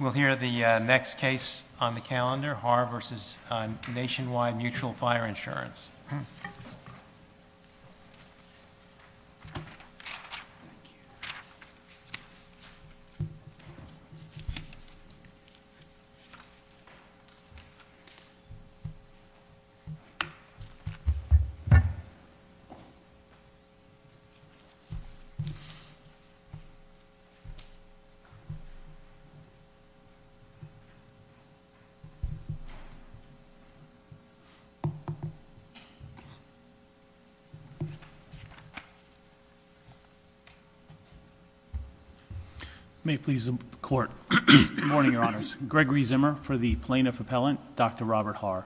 We'll hear the next case on the calendar, Haar v. Nationwide Mutual Fire Insurance. May it please the Court, good morning, Your Honors. Gregory Zimmer for the plaintiff appellant, Dr. Robert Haar.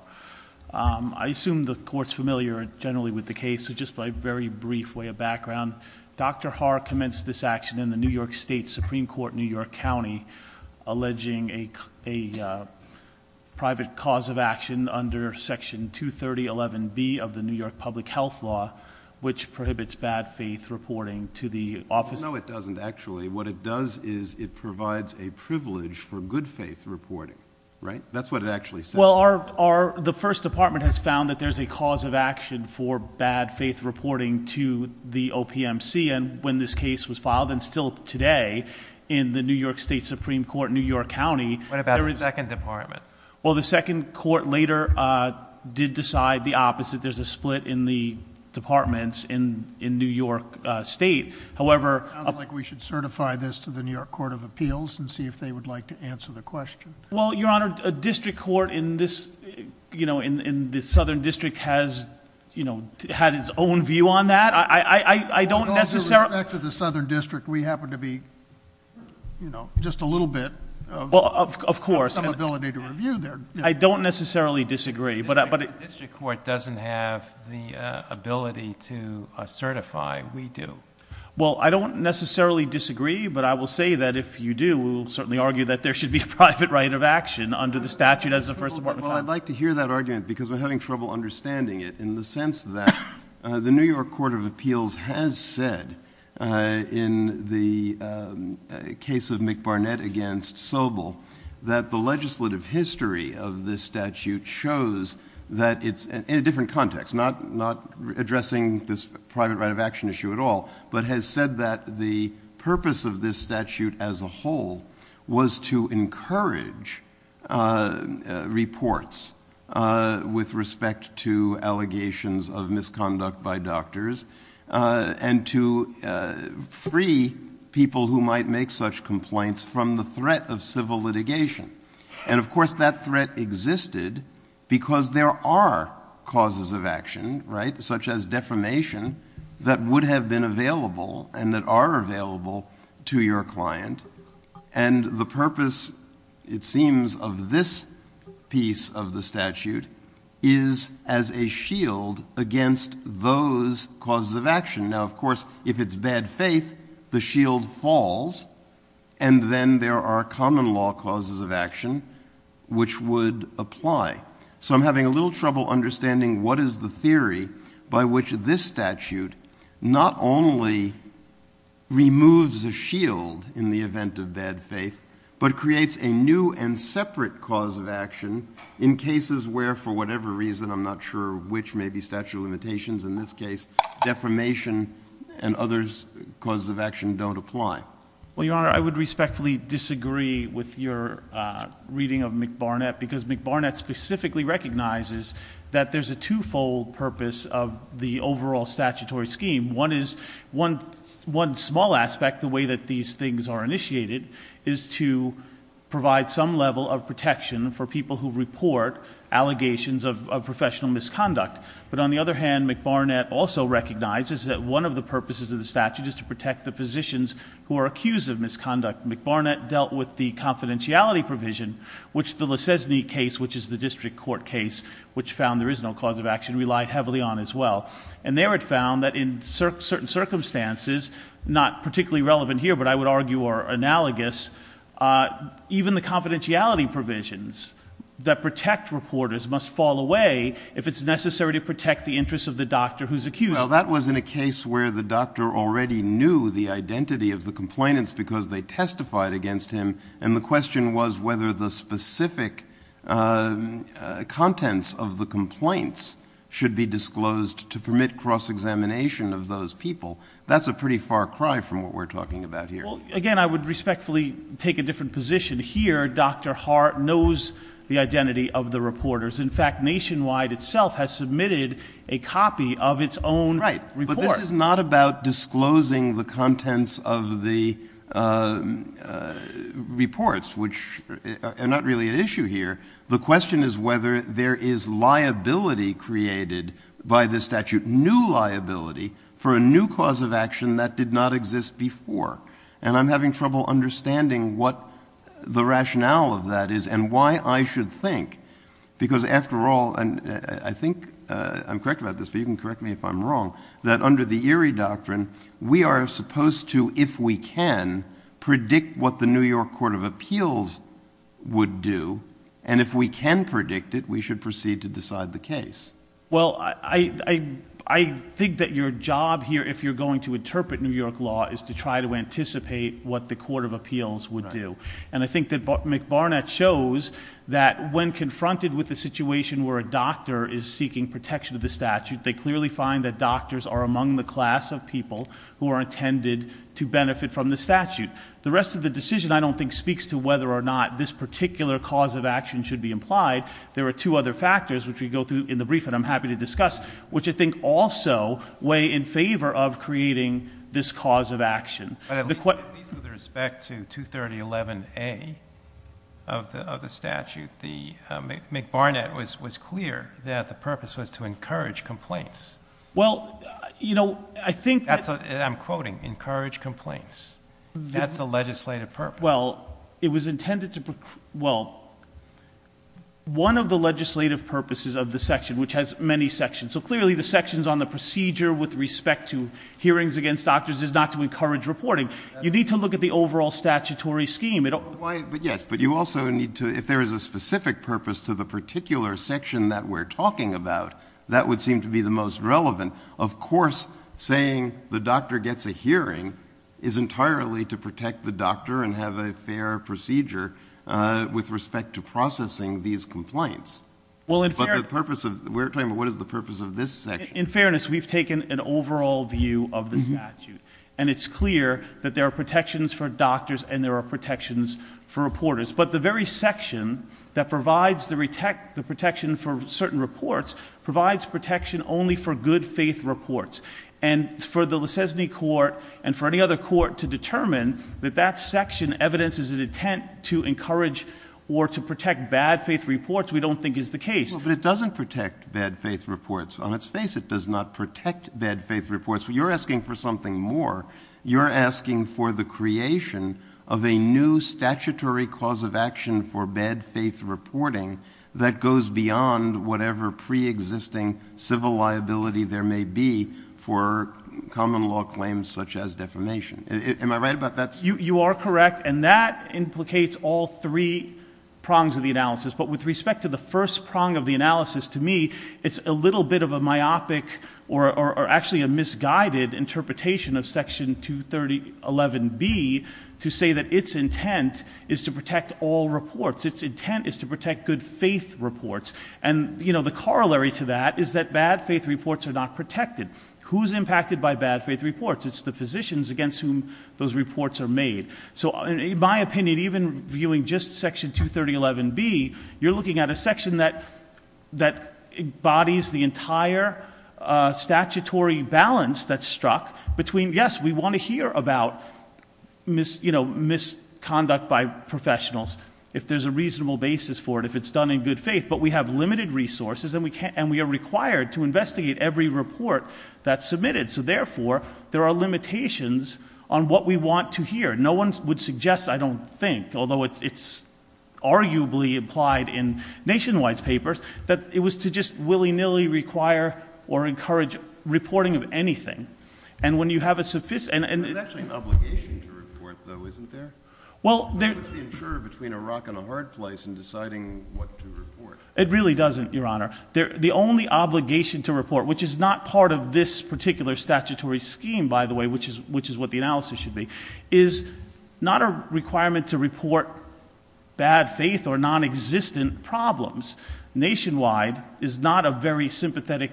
I assume the court's familiar generally with the case, so just by a very brief way of background, Dr. Haar commenced this action in the New York State Supreme Court, New York County, alleging a private cause of action under section 23011B of the New York Public Health Law, which prohibits bad faith reporting to the office. No, it doesn't actually. What it does is it provides a privilege for good faith reporting, right? That's what it actually says. Well, the first department has found that there's a cause of action for bad faith reporting to the OPMC. And when this case was filed, and still today, in the New York State Supreme Court, New York County- What about the second department? Well, the second court later did decide the opposite. There's a split in the departments in New York State. However- It sounds like we should certify this to the New York Court of Appeals and see if they would like to answer the question. Well, Your Honor, a district court in the southern district has had its own view on that. I don't necessarily- With all due respect to the southern district, we happen to be just a little bit of- Well, of course. Have some ability to review their- I don't necessarily disagree, but- The district court doesn't have the ability to certify, we do. Well, I don't necessarily disagree, but I will say that if you do, we'll certainly argue that there should be a private right of action under the statute as the first department- Well, I'd like to hear that argument, because we're having trouble understanding it, in the sense that the New York Court of Appeals has said, in the case of McBarnett against Sobel, that the legislative history of this statute shows that it's in a different context, not addressing this private right of action issue at all, but has said that the purpose of this statute as a whole was to encourage reports with respect to allegations of misconduct by doctors and to free people who might make such complaints from the threat of civil litigation. And of course, that threat existed because there are causes of action, right, such as defamation, that would have been available and that are available to your client. And the purpose, it seems, of this piece of the statute is as a shield against those causes of action. Now, of course, if it's bad faith, the shield falls, and then there are common law causes of action which would apply. So I'm having a little trouble understanding what is the theory by which this statute not only removes a shield in the event of bad faith, but creates a new and separate cause of action in cases where, for whatever reason, I'm not sure which, maybe statute of limitations, in this case, defamation and other causes of action don't apply. Well, Your Honor, I would respectfully disagree with your reading of McBarnett, because McBarnett specifically recognizes that there's a two-fold purpose of the overall statutory scheme. One small aspect, the way that these things are initiated, is to provide some level of protection for people who report allegations of professional misconduct. But on the other hand, McBarnett also recognizes that one of the purposes of the statute is to protect the physicians who are accused of misconduct. McBarnett dealt with the confidentiality provision, which the Lesesne case, which is the district court case, which found there is no cause of action, relied heavily on as well. And there it found that in certain circumstances, not particularly relevant here, but I would argue are analogous, even the confidentiality provisions that protect reporters must fall away if it's necessary to protect the interests of the doctor who's accused. Well, that was in a case where the doctor already knew the identity of the complainants because they testified against him. And the question was whether the specific contents of the complaints should be disclosed to permit cross-examination of those people. That's a pretty far cry from what we're talking about here. Well, again, I would respectfully take a different position. Here, Dr. Hart knows the identity of the reporters. In fact, Nationwide itself has submitted a copy of its own report. Right, but this is not about disclosing the contents of the reports, which are not really an issue here. The question is whether there is liability created by this statute, new liability for a new cause of action that did not exist before. And I'm having trouble understanding what the rationale of that is and why I should think. Because after all, and I think I'm correct about this, but you can correct me if I'm wrong, that under the Erie Doctrine, we are supposed to, if we can, predict what the New York Court of Appeals would do. And if we can predict it, we should proceed to decide the case. Well, I think that your job here, if you're going to interpret New York law, is to try to anticipate what the Court of Appeals would do. And I think that McBarnett shows that when confronted with a situation where a doctor is seeking protection of the statute, they clearly find that doctors are among the class of people who are intended to benefit from the statute. The rest of the decision, I don't think, speaks to whether or not this particular cause of action should be implied. There are two other factors, which we go through in the brief that I'm happy to discuss, which I think also weigh in favor of creating this cause of action. But at least with respect to 23011A of the statute, McBarnett was clear that the purpose was to encourage complaints. Well, I think- I'm quoting, encourage complaints. That's the legislative purpose. Well, it was intended to, well, one of the legislative purposes of the section, which has many sections. So clearly, the sections on the procedure with respect to hearings against doctors is not to encourage reporting. You need to look at the overall statutory scheme. It'll- But yes, but you also need to, if there is a specific purpose to the particular section that we're talking about, that would seem to be the most relevant. Of course, saying the doctor gets a hearing is entirely to protect the doctor and have a fair procedure with respect to processing these complaints. But the purpose of, we're talking about what is the purpose of this section? In fairness, we've taken an overall view of the statute. And it's clear that there are protections for doctors and there are protections for reporters. But the very section that provides the protection for certain reports provides protection only for good faith reports. And for the Lesesny Court and for any other court to determine that that section evidences an intent to encourage or to protect bad faith reports, we don't think is the case. Well, but it doesn't protect bad faith reports. On its face, it does not protect bad faith reports. You're asking for something more. You're asking for the creation of a new statutory cause of action for bad faith reporting that goes beyond whatever pre-existing civil liability there may be for common law claims such as defamation. Am I right about that? You are correct. And that implicates all three prongs of the analysis. But with respect to the first prong of the analysis, to me, it's a little bit of a myopic or actually a misguided interpretation of section 23011B to say that its intent is to protect all reports. Its intent is to protect good faith reports. And the corollary to that is that bad faith reports are not protected. Who's impacted by bad faith reports? It's the physicians against whom those reports are made. So in my opinion, even viewing just section 23011B, you're looking at a section that embodies the entire statutory balance that's struck. Between yes, we want to hear about misconduct by professionals. If there's a reasonable basis for it, if it's done in good faith. But we have limited resources and we are required to investigate every report that's submitted. So therefore, there are limitations on what we want to hear. No one would suggest, I don't think, although it's arguably implied in Nationwide's papers, that it was to just willy-nilly require or encourage reporting of anything. And when you have a sufficient- There's actually an obligation to report though, isn't there? Well, there- What's the insurer between a rock and a hard place in deciding what to report? It really doesn't, your honor. The only obligation to report, which is not part of this particular statutory scheme, by the way, which is what the analysis should be, is not a requirement to report bad faith or non-existent problems. Nationwide is not a very sympathetic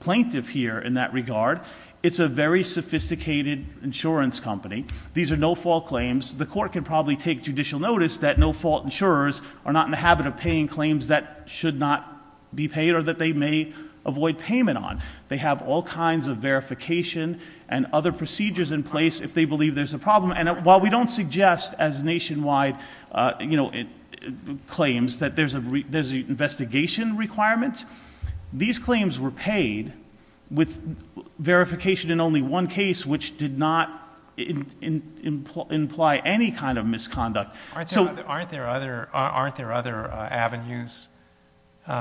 plaintiff here in that regard. It's a very sophisticated insurance company. These are no-fault claims. The court can probably take judicial notice that no-fault insurers are not in the habit of paying claims that should not be paid or that they may avoid payment on. They have all kinds of verification and other procedures in place if they believe there's a problem. And while we don't suggest, as Nationwide claims, that there's an investigation requirement, these claims were paid with verification in only one case, which did not imply any kind of misconduct. So- Aren't there other avenues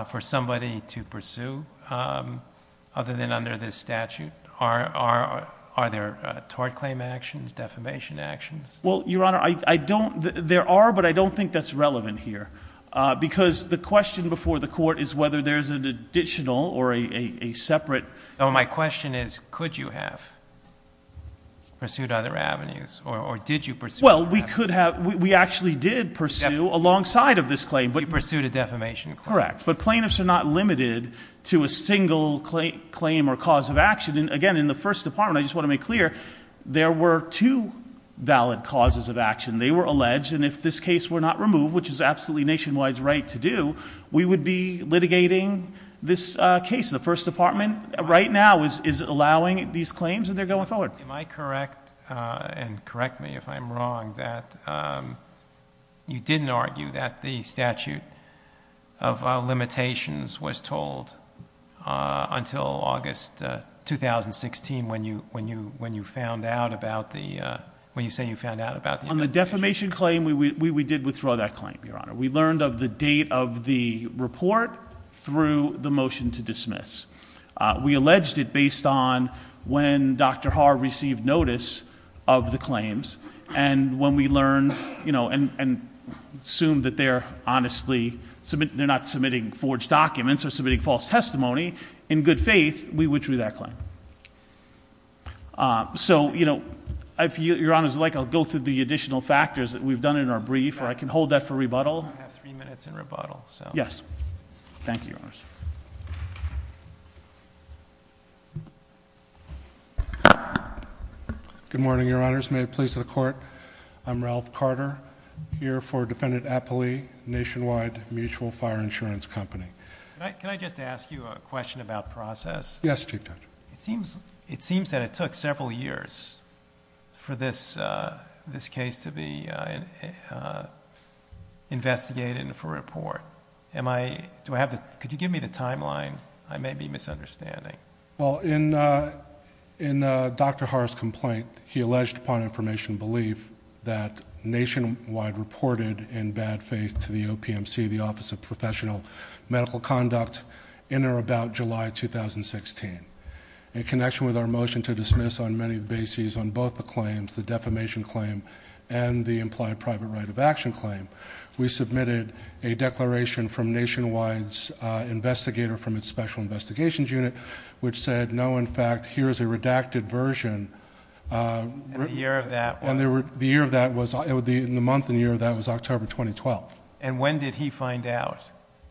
for somebody to pursue other than under this statute? Are there tort claim actions, defamation actions? Well, your honor, there are, but I don't think that's relevant here. Because the question before the court is whether there's an additional or a separate- So my question is, could you have pursued other avenues, or did you pursue other avenues? Well, we could have, we actually did pursue alongside of this claim, but- You pursued a defamation claim. Correct, but plaintiffs are not limited to a single claim or cause of action. And again, in the first department, I just want to make clear, there were two valid causes of action. They were alleged, and if this case were not removed, which is absolutely Nationwide's right to do, we would be litigating this case. The first department, right now, is allowing these claims, and they're going forward. Am I correct, and correct me if I'm wrong, that you didn't argue that the statute of limitations was told until August 2016 when you found out about the, when you say you found out about the- On the defamation claim, we did withdraw that claim, Your Honor. We learned of the date of the report through the motion to dismiss. We alleged it based on when Dr. Haar received notice of the claims. And when we learned, and assumed that they're honestly, they're not submitting forged documents or submitting false testimony, in good faith, we withdrew that claim. So, if Your Honor's like, I'll go through the additional factors that we've done in our brief, or I can hold that for rebuttal. I have three minutes in rebuttal, so. Thank you, Your Honors. Good morning, Your Honors. May it please the court, I'm Ralph Carter, here for Defendant Appley, Nationwide Mutual Fire Insurance Company. Can I just ask you a question about process? Yes, Chief Judge. It seems that it took several years for this case to be investigated and for report. Am I, do I have the, could you give me the timeline? I may be misunderstanding. Well, in Dr. Haar's complaint, he alleged upon information belief that Nationwide reported in bad faith to the OPMC, the Office of Professional Medical Conduct, in or about July 2016, in connection with our motion to dismiss on many bases, on both the claims, the defamation claim and the implied private right of action claim. We submitted a declaration from Nationwide's investigator from its special investigations unit, which said, no, in fact, here's a redacted version. And the year of that? And the year of that was, in the month and year of that was October 2012. And when did he find out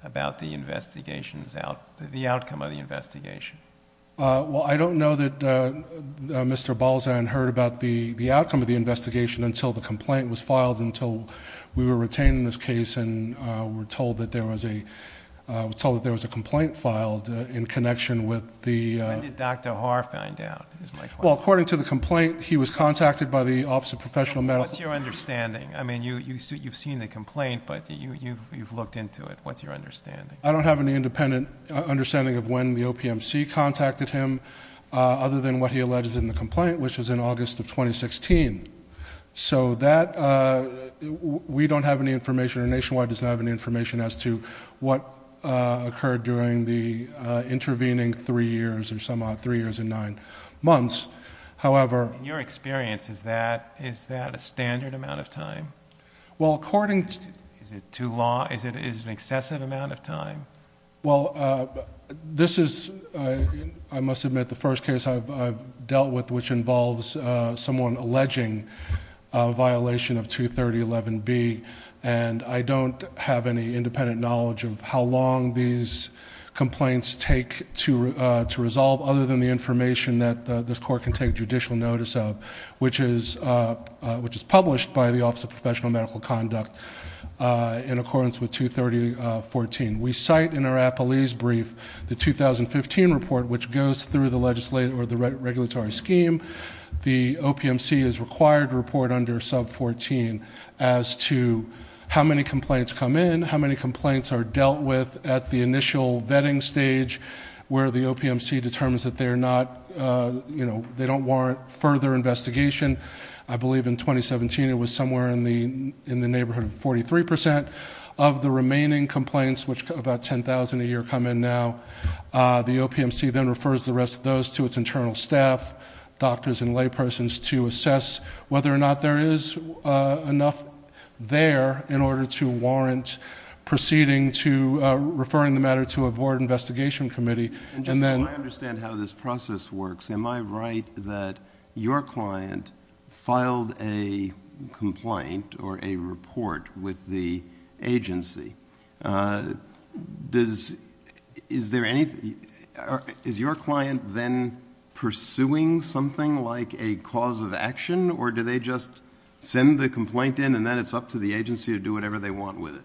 about the investigations, the outcome of the investigation? Well, I don't know that Mr. Balzan heard about the outcome of the investigation until the complaint was filed, until we were retained in this case and were told that there was a complaint filed in connection with the... When did Dr. Haar find out, is my question. Well, according to the complaint, he was contacted by the Office of Professional Medical... What's your understanding? I mean, you've seen the complaint, but you've looked into it. What's your understanding? I don't have any independent understanding of when the OPMC contacted him, other than what he alleged in the complaint, which was in August of 2016. So that, we don't have any information, or Nationwide doesn't have any information as to what occurred during the intervening three years, or some odd three years and nine months. However... In your experience, is that a standard amount of time? Well, according to... Is it too long? Is it an excessive amount of time? Well, this is, I must admit, the first case I've dealt with, which involves someone alleging a violation of 23011B. And I don't have any independent knowledge of how long these complaints take to resolve, other than the information that this court can take judicial notice of, which is published by the Office of Professional Medical Conduct in accordance with 23014. We cite in our appellee's brief, the 2015 report, which goes through the regulatory scheme. The OPMC is required to report under sub 14 as to how many complaints come in, how many complaints are dealt with at the initial vetting stage, where the OPMC determines that they are not, they don't warrant further investigation. I believe in 2017, it was somewhere in the neighborhood of 43% of the remaining complaints, which about 10,000 a year come in now. The OPMC then refers the rest of those to its internal staff, doctors and laypersons to assess whether or not there is enough there in order to warrant proceeding to referring the matter to a board investigation committee. And then- I understand how this process works. Am I right that your client filed a complaint or a report with the agency? Is there anything, is your client then pursuing something like a cause of action, or do they just send the complaint in and then it's up to the agency to do whatever they want with it?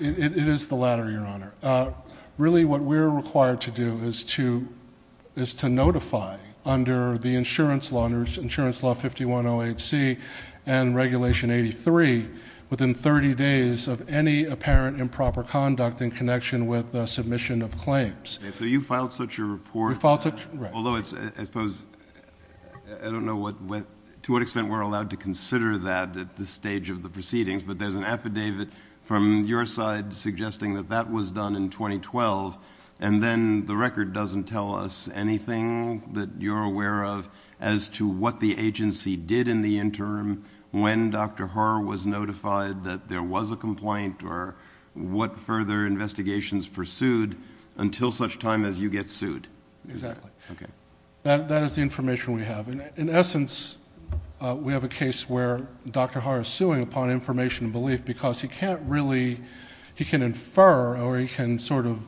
It is the latter, your honor. Really what we're required to do is to notify under the insurance law, under insurance law 5108C and regulation 83, within 30 days of any apparent improper conduct in connection with the submission of claims. So you filed such a report- We filed such, right. Although it's, I suppose, I don't know what, to what extent we're allowed to consider that at this stage of the proceedings. But there's an affidavit from your side suggesting that that was done in 2012. And then the record doesn't tell us anything that you're aware of as to what the agency did in the interim, when Dr. Haar was notified that there was a complaint, or what further investigations pursued until such time as you get sued. Exactly. Okay. That is the information we have. In essence, we have a case where Dr. Haar is suing upon information and belief because he can't really, he can infer or he can sort of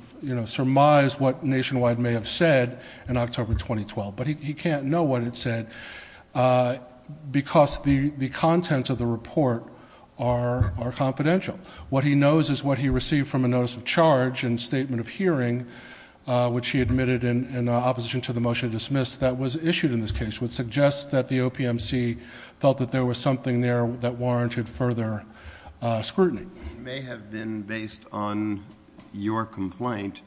surmise what Nationwide may have said in October 2012. But he can't know what it said because the contents of the report are confidential. What he knows is what he received from a notice of charge and statement of hearing, which he admitted in opposition to the motion to dismiss that was issued in this case, would suggest that the OPMC felt that there was something there that warranted further scrutiny. May have been based on your complaint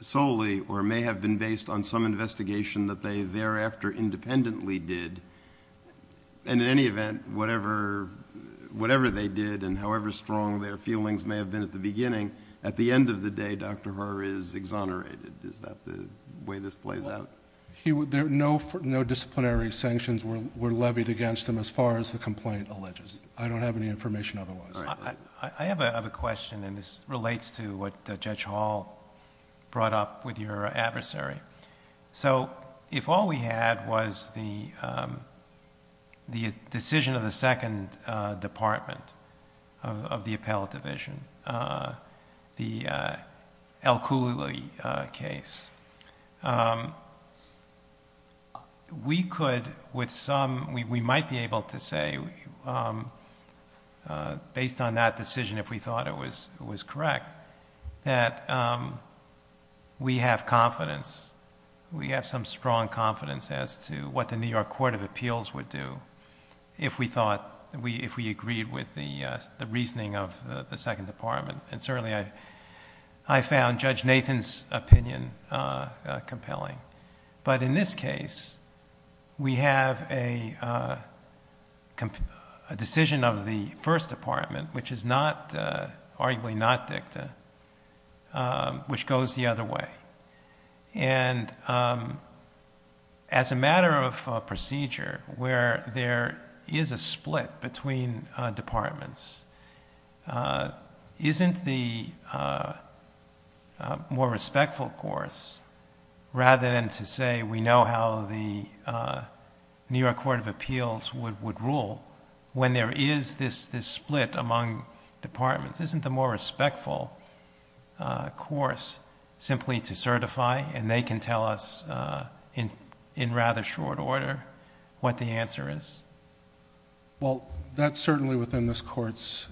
solely, or may have been based on some investigation that they thereafter independently did. And in any event, whatever they did and however strong their feelings may have been at the beginning, at the end of the day, Dr. Haar is exonerated. Is that the way this plays out? No disciplinary sanctions were levied against him as far as the complaint alleges. I don't have any information otherwise. I have a question and this relates to what Judge Hall brought up with your adversary. So if all we had was the decision of the second department of the appellate division, the Al-Khuli case. We could, with some, we might be able to say, based on that decision, if we thought it was correct, that we have confidence, we have some strong confidence, as to what the New York Court of Appeals would do if we thought, if we agreed with the reasoning of the second department. And certainly I found Judge Nathan's opinion compelling. But in this case, we have a decision of the first department, which is not, arguably not dicta, which goes the other way. And as a matter of procedure, where there is a split between departments, isn't the more respectful course, rather than to say we know how the New York Court of Appeals would rule. When there is this split among departments, isn't the more respectful course simply to certify and they can tell us in rather short order what the answer is? Well, that's certainly within this court's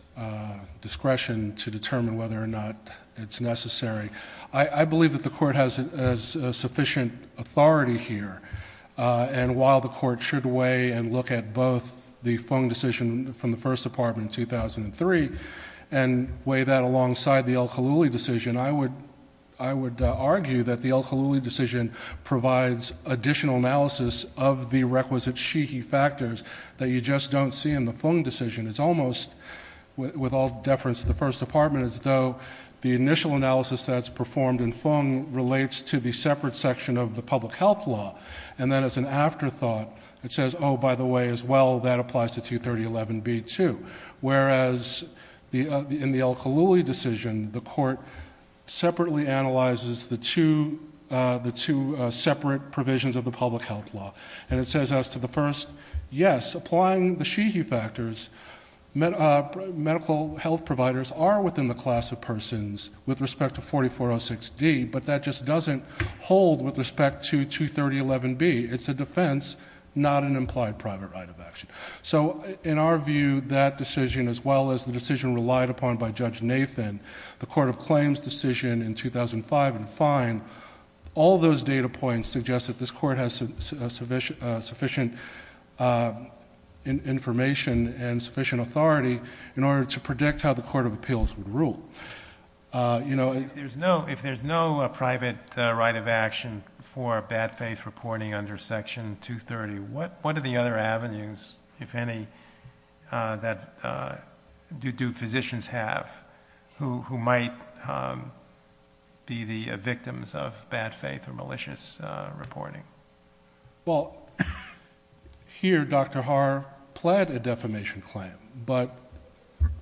discretion to determine whether or not it's necessary. I believe that the court has a sufficient authority here. And while the court should weigh and look at both the phone decision from the first department in 2003, and weigh that alongside the Al-Khuli decision, I would argue that the Al-Khuli decision provides additional analysis of the requisite she-he factors that you just don't see in the phone decision. It's almost, with all deference to the first department, as though the initial analysis that's performed in phone relates to the separate section of the public health law. And then as an afterthought, it says, by the way, as well, that applies to 23011B too. Whereas in the Al-Khuli decision, the court separately analyzes the two separate provisions of the public health law. And it says as to the first, yes, applying the she-he factors, medical health providers are within the class of persons with respect to 4406D. But that just doesn't hold with respect to 23011B. It's a defense, not an implied private right of action. So in our view, that decision, as well as the decision relied upon by Judge Nathan, the Court of Claims decision in 2005 and fine, all those data points suggest that this court has sufficient information and sufficient authority in order to predict how the Court of Appeals would rule. You know- If there's no private right of action for bad faith reporting under section 230, what are the other avenues, if any, that do physicians have who might be the victims of bad faith or malicious reporting? Well, here, Dr. Haar pled a defamation claim. But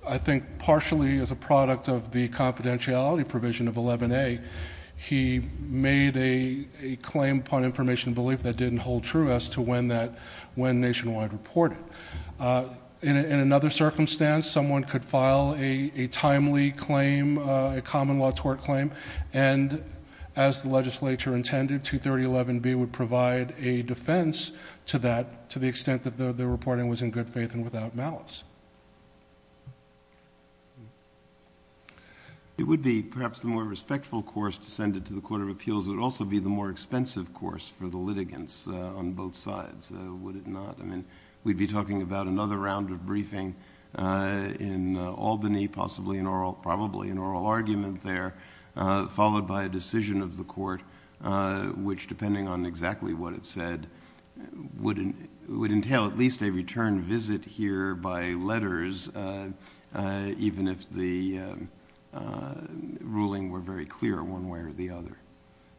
I think partially as a product of the confidentiality provision of 11A, he made a claim upon information belief that didn't hold true as to when nationwide reported In another circumstance, someone could file a timely claim, a common law tort claim, and as the legislature intended, 23011B would provide a defense to that, to the extent that the reporting was in good faith and without malice. It would be, perhaps, the more respectful course to send it to the Court of Appeals. It would also be the more expensive course for the litigants on both sides. Would it not? I mean, we'd be talking about another round of briefing in Albany, possibly an oral, probably an oral argument there, followed by a decision of the court, which, depending on exactly what it said, would entail at least a return visit here by letters, even if the ruling were very clear one way or the other.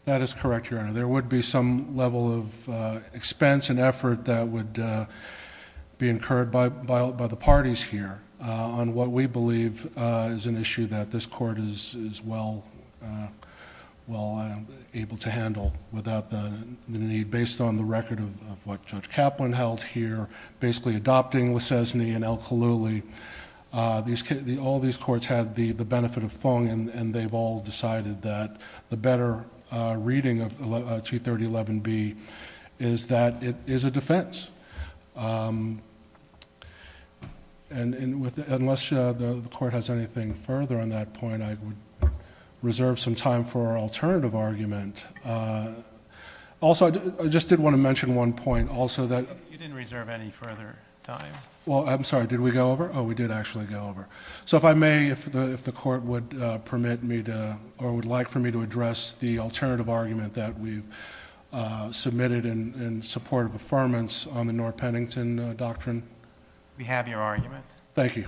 That is correct, Your Honor. There would be some level of expense and effort that would be incurred by the parties here on what we believe is an issue that this court is well able to handle without the need, based on the record of what Judge Kaplan held here, basically adopting Lisesni and El-Khallouli. All these courts had the benefit of Fung, and they've all decided that the better reading of 23011B is that it is a defense. Unless the court has anything further on that point, I would reserve some time for an alternative argument. Also, I just did want to mention one point, also, that- You didn't reserve any further time. Well, I'm sorry. Did we go over? Oh, we did actually go over. If I may, if the court would permit me to, or would like for me to address the alternative argument that we've submitted in support of affirmance on the Norr-Pennington Doctrine. We have your argument. Thank you.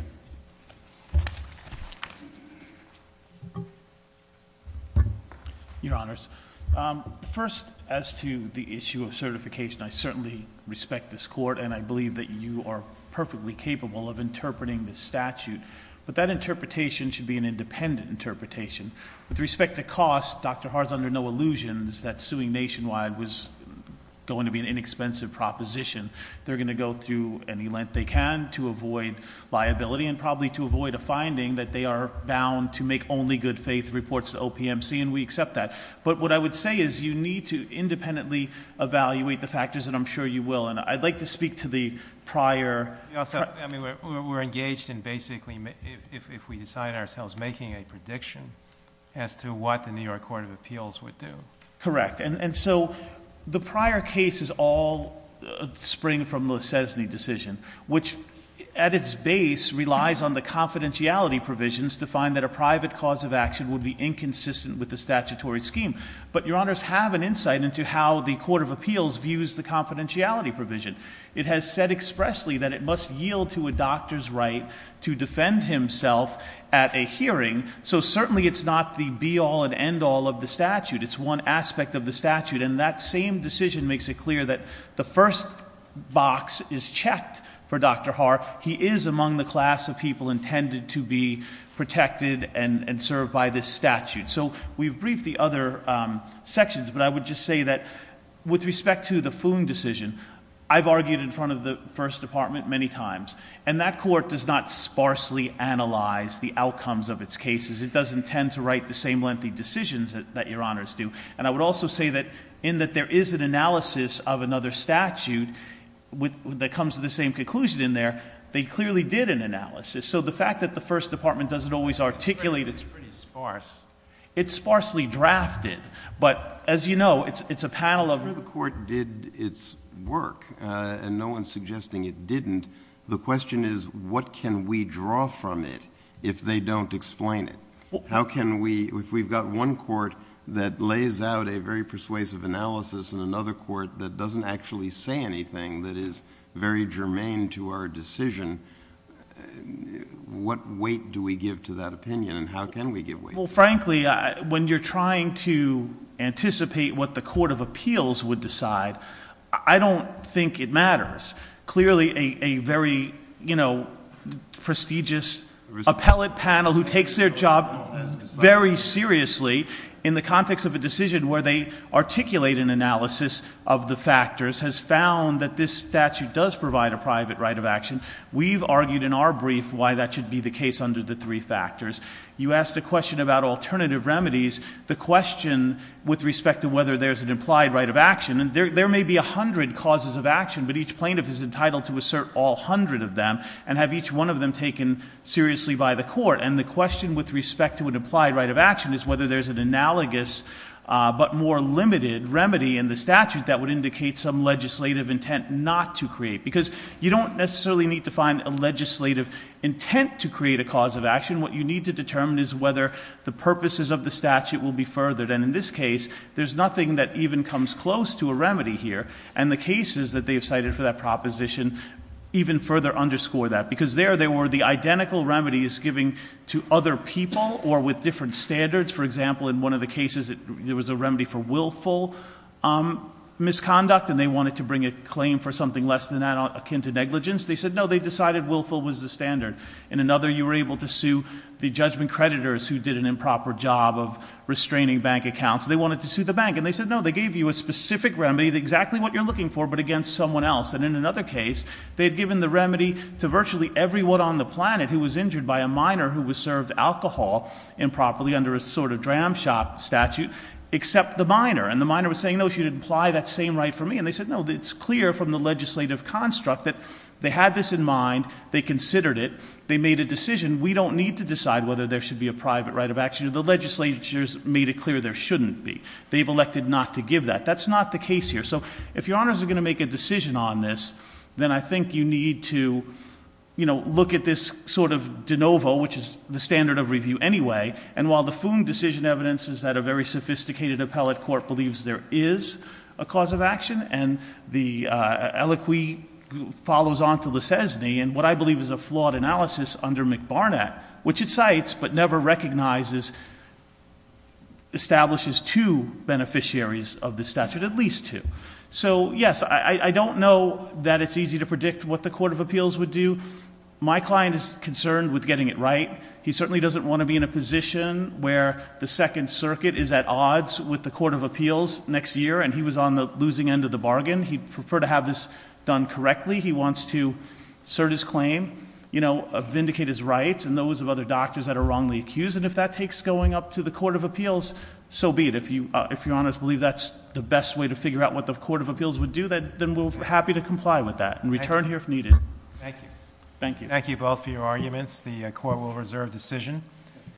Your Honors, first, as to the issue of certification, I certainly respect this court, and I believe that you are perfectly capable of interpreting this statute. But that interpretation should be an independent interpretation. With respect to cost, Dr. Hart's under no illusions that suing nationwide was going to be an inexpensive proposition. They're going to go through any length they can to avoid liability, and probably to avoid a finding that they are bound to make only good faith reports to OPMC, and we accept that. But what I would say is you need to independently evaluate the factors, and I'm sure you will. And I'd like to speak to the prior- Also, I mean, we're engaged in basically, if we decide ourselves, making a prediction as to what the New York Court of Appeals would do. Correct, and so the prior cases all spring from the Sesney decision, which at its base relies on the confidentiality provisions to find that a private cause of action would be inconsistent with the statutory scheme. But your honors have an insight into how the Court of Appeals views the confidentiality provision. It has said expressly that it must yield to a doctor's right to defend himself at a hearing. So certainly it's not the be all and end all of the statute. It's one aspect of the statute, and that same decision makes it clear that the first box is checked for Dr. Hart. He is among the class of people intended to be protected and served by this statute. So we've briefed the other sections, but I would just say that with respect to the Foon decision, I've argued in front of the first department many times, and that court does not sparsely analyze the outcomes of its cases. It doesn't tend to write the same lengthy decisions that your honors do. And I would also say that in that there is an analysis of another statute that comes to the same conclusion in there. They clearly did an analysis. So the fact that the first department doesn't always articulate it's pretty sparse. It's sparsely drafted, but as you know, it's a panel of- The court did its work, and no one's suggesting it didn't. The question is, what can we draw from it if they don't explain it? How can we, if we've got one court that lays out a very persuasive analysis and another court that doesn't actually say anything that is very germane to our decision. What weight do we give to that opinion, and how can we give weight? Well, frankly, when you're trying to anticipate what the court of appeals would decide, I don't think it matters. Clearly a very prestigious appellate panel who takes their job very seriously, in the context of a decision where they articulate an analysis of the factors, has found that this statute does provide a private right of action. We've argued in our brief why that should be the case under the three factors. You asked a question about alternative remedies. The question with respect to whether there's an implied right of action, and there may be 100 causes of action, but each plaintiff is entitled to assert all 100 of them, and have each one of them taken seriously by the court. And the question with respect to an implied right of action is whether there's an analogous but more limited remedy in the statute that would indicate some legislative intent not to create. Because you don't necessarily need to find a legislative intent to create a cause of action. What you need to determine is whether the purposes of the statute will be furthered. And in this case, there's nothing that even comes close to a remedy here. And the cases that they've cited for that proposition even further underscore that. Because there, there were the identical remedies given to other people or with different standards. For example, in one of the cases, there was a remedy for willful misconduct, and they wanted to bring a claim for something less than that akin to negligence. They said, no, they decided willful was the standard. In another, you were able to sue the judgment creditors who did an improper job of restraining bank accounts. They wanted to sue the bank. And they said, no, they gave you a specific remedy, exactly what you're looking for, but against someone else. And in another case, they had given the remedy to virtually everyone on the planet who was injured by a minor who was served alcohol improperly under a sort of dram shop statute except the minor. And the minor was saying, no, she didn't apply that same right for me. And they said, no, it's clear from the legislative construct that they had this in mind. They considered it. They made a decision. We don't need to decide whether there should be a private right of action. The legislature's made it clear there shouldn't be. They've elected not to give that. That's not the case here. So if your honors are going to make a decision on this, then I think you need to look at this sort of de novo, which is the standard of review anyway. And while the Foon decision evidence is that a very sophisticated appellate court believes there is a cause of action, and the aliqui follows on to the sesne, and what I believe is a flawed analysis under McBarnett, which it cites but never recognizes, establishes two beneficiaries of the statute, at least two. So yes, I don't know that it's easy to predict what the court of appeals would do. My client is concerned with getting it right. He certainly doesn't want to be in a position where the second circuit is at odds with the court of appeals next year, and he was on the losing end of the bargain. He'd prefer to have this done correctly. He wants to serve his claim, vindicate his rights, and those of other doctors that are wrongly accused. And if that takes going up to the court of appeals, so be it. If your honors believe that's the best way to figure out what the court of appeals would do, then we're happy to comply with that and return here if needed. Thank you. Thank you. Thank you both for your arguments. The court will reserve decision.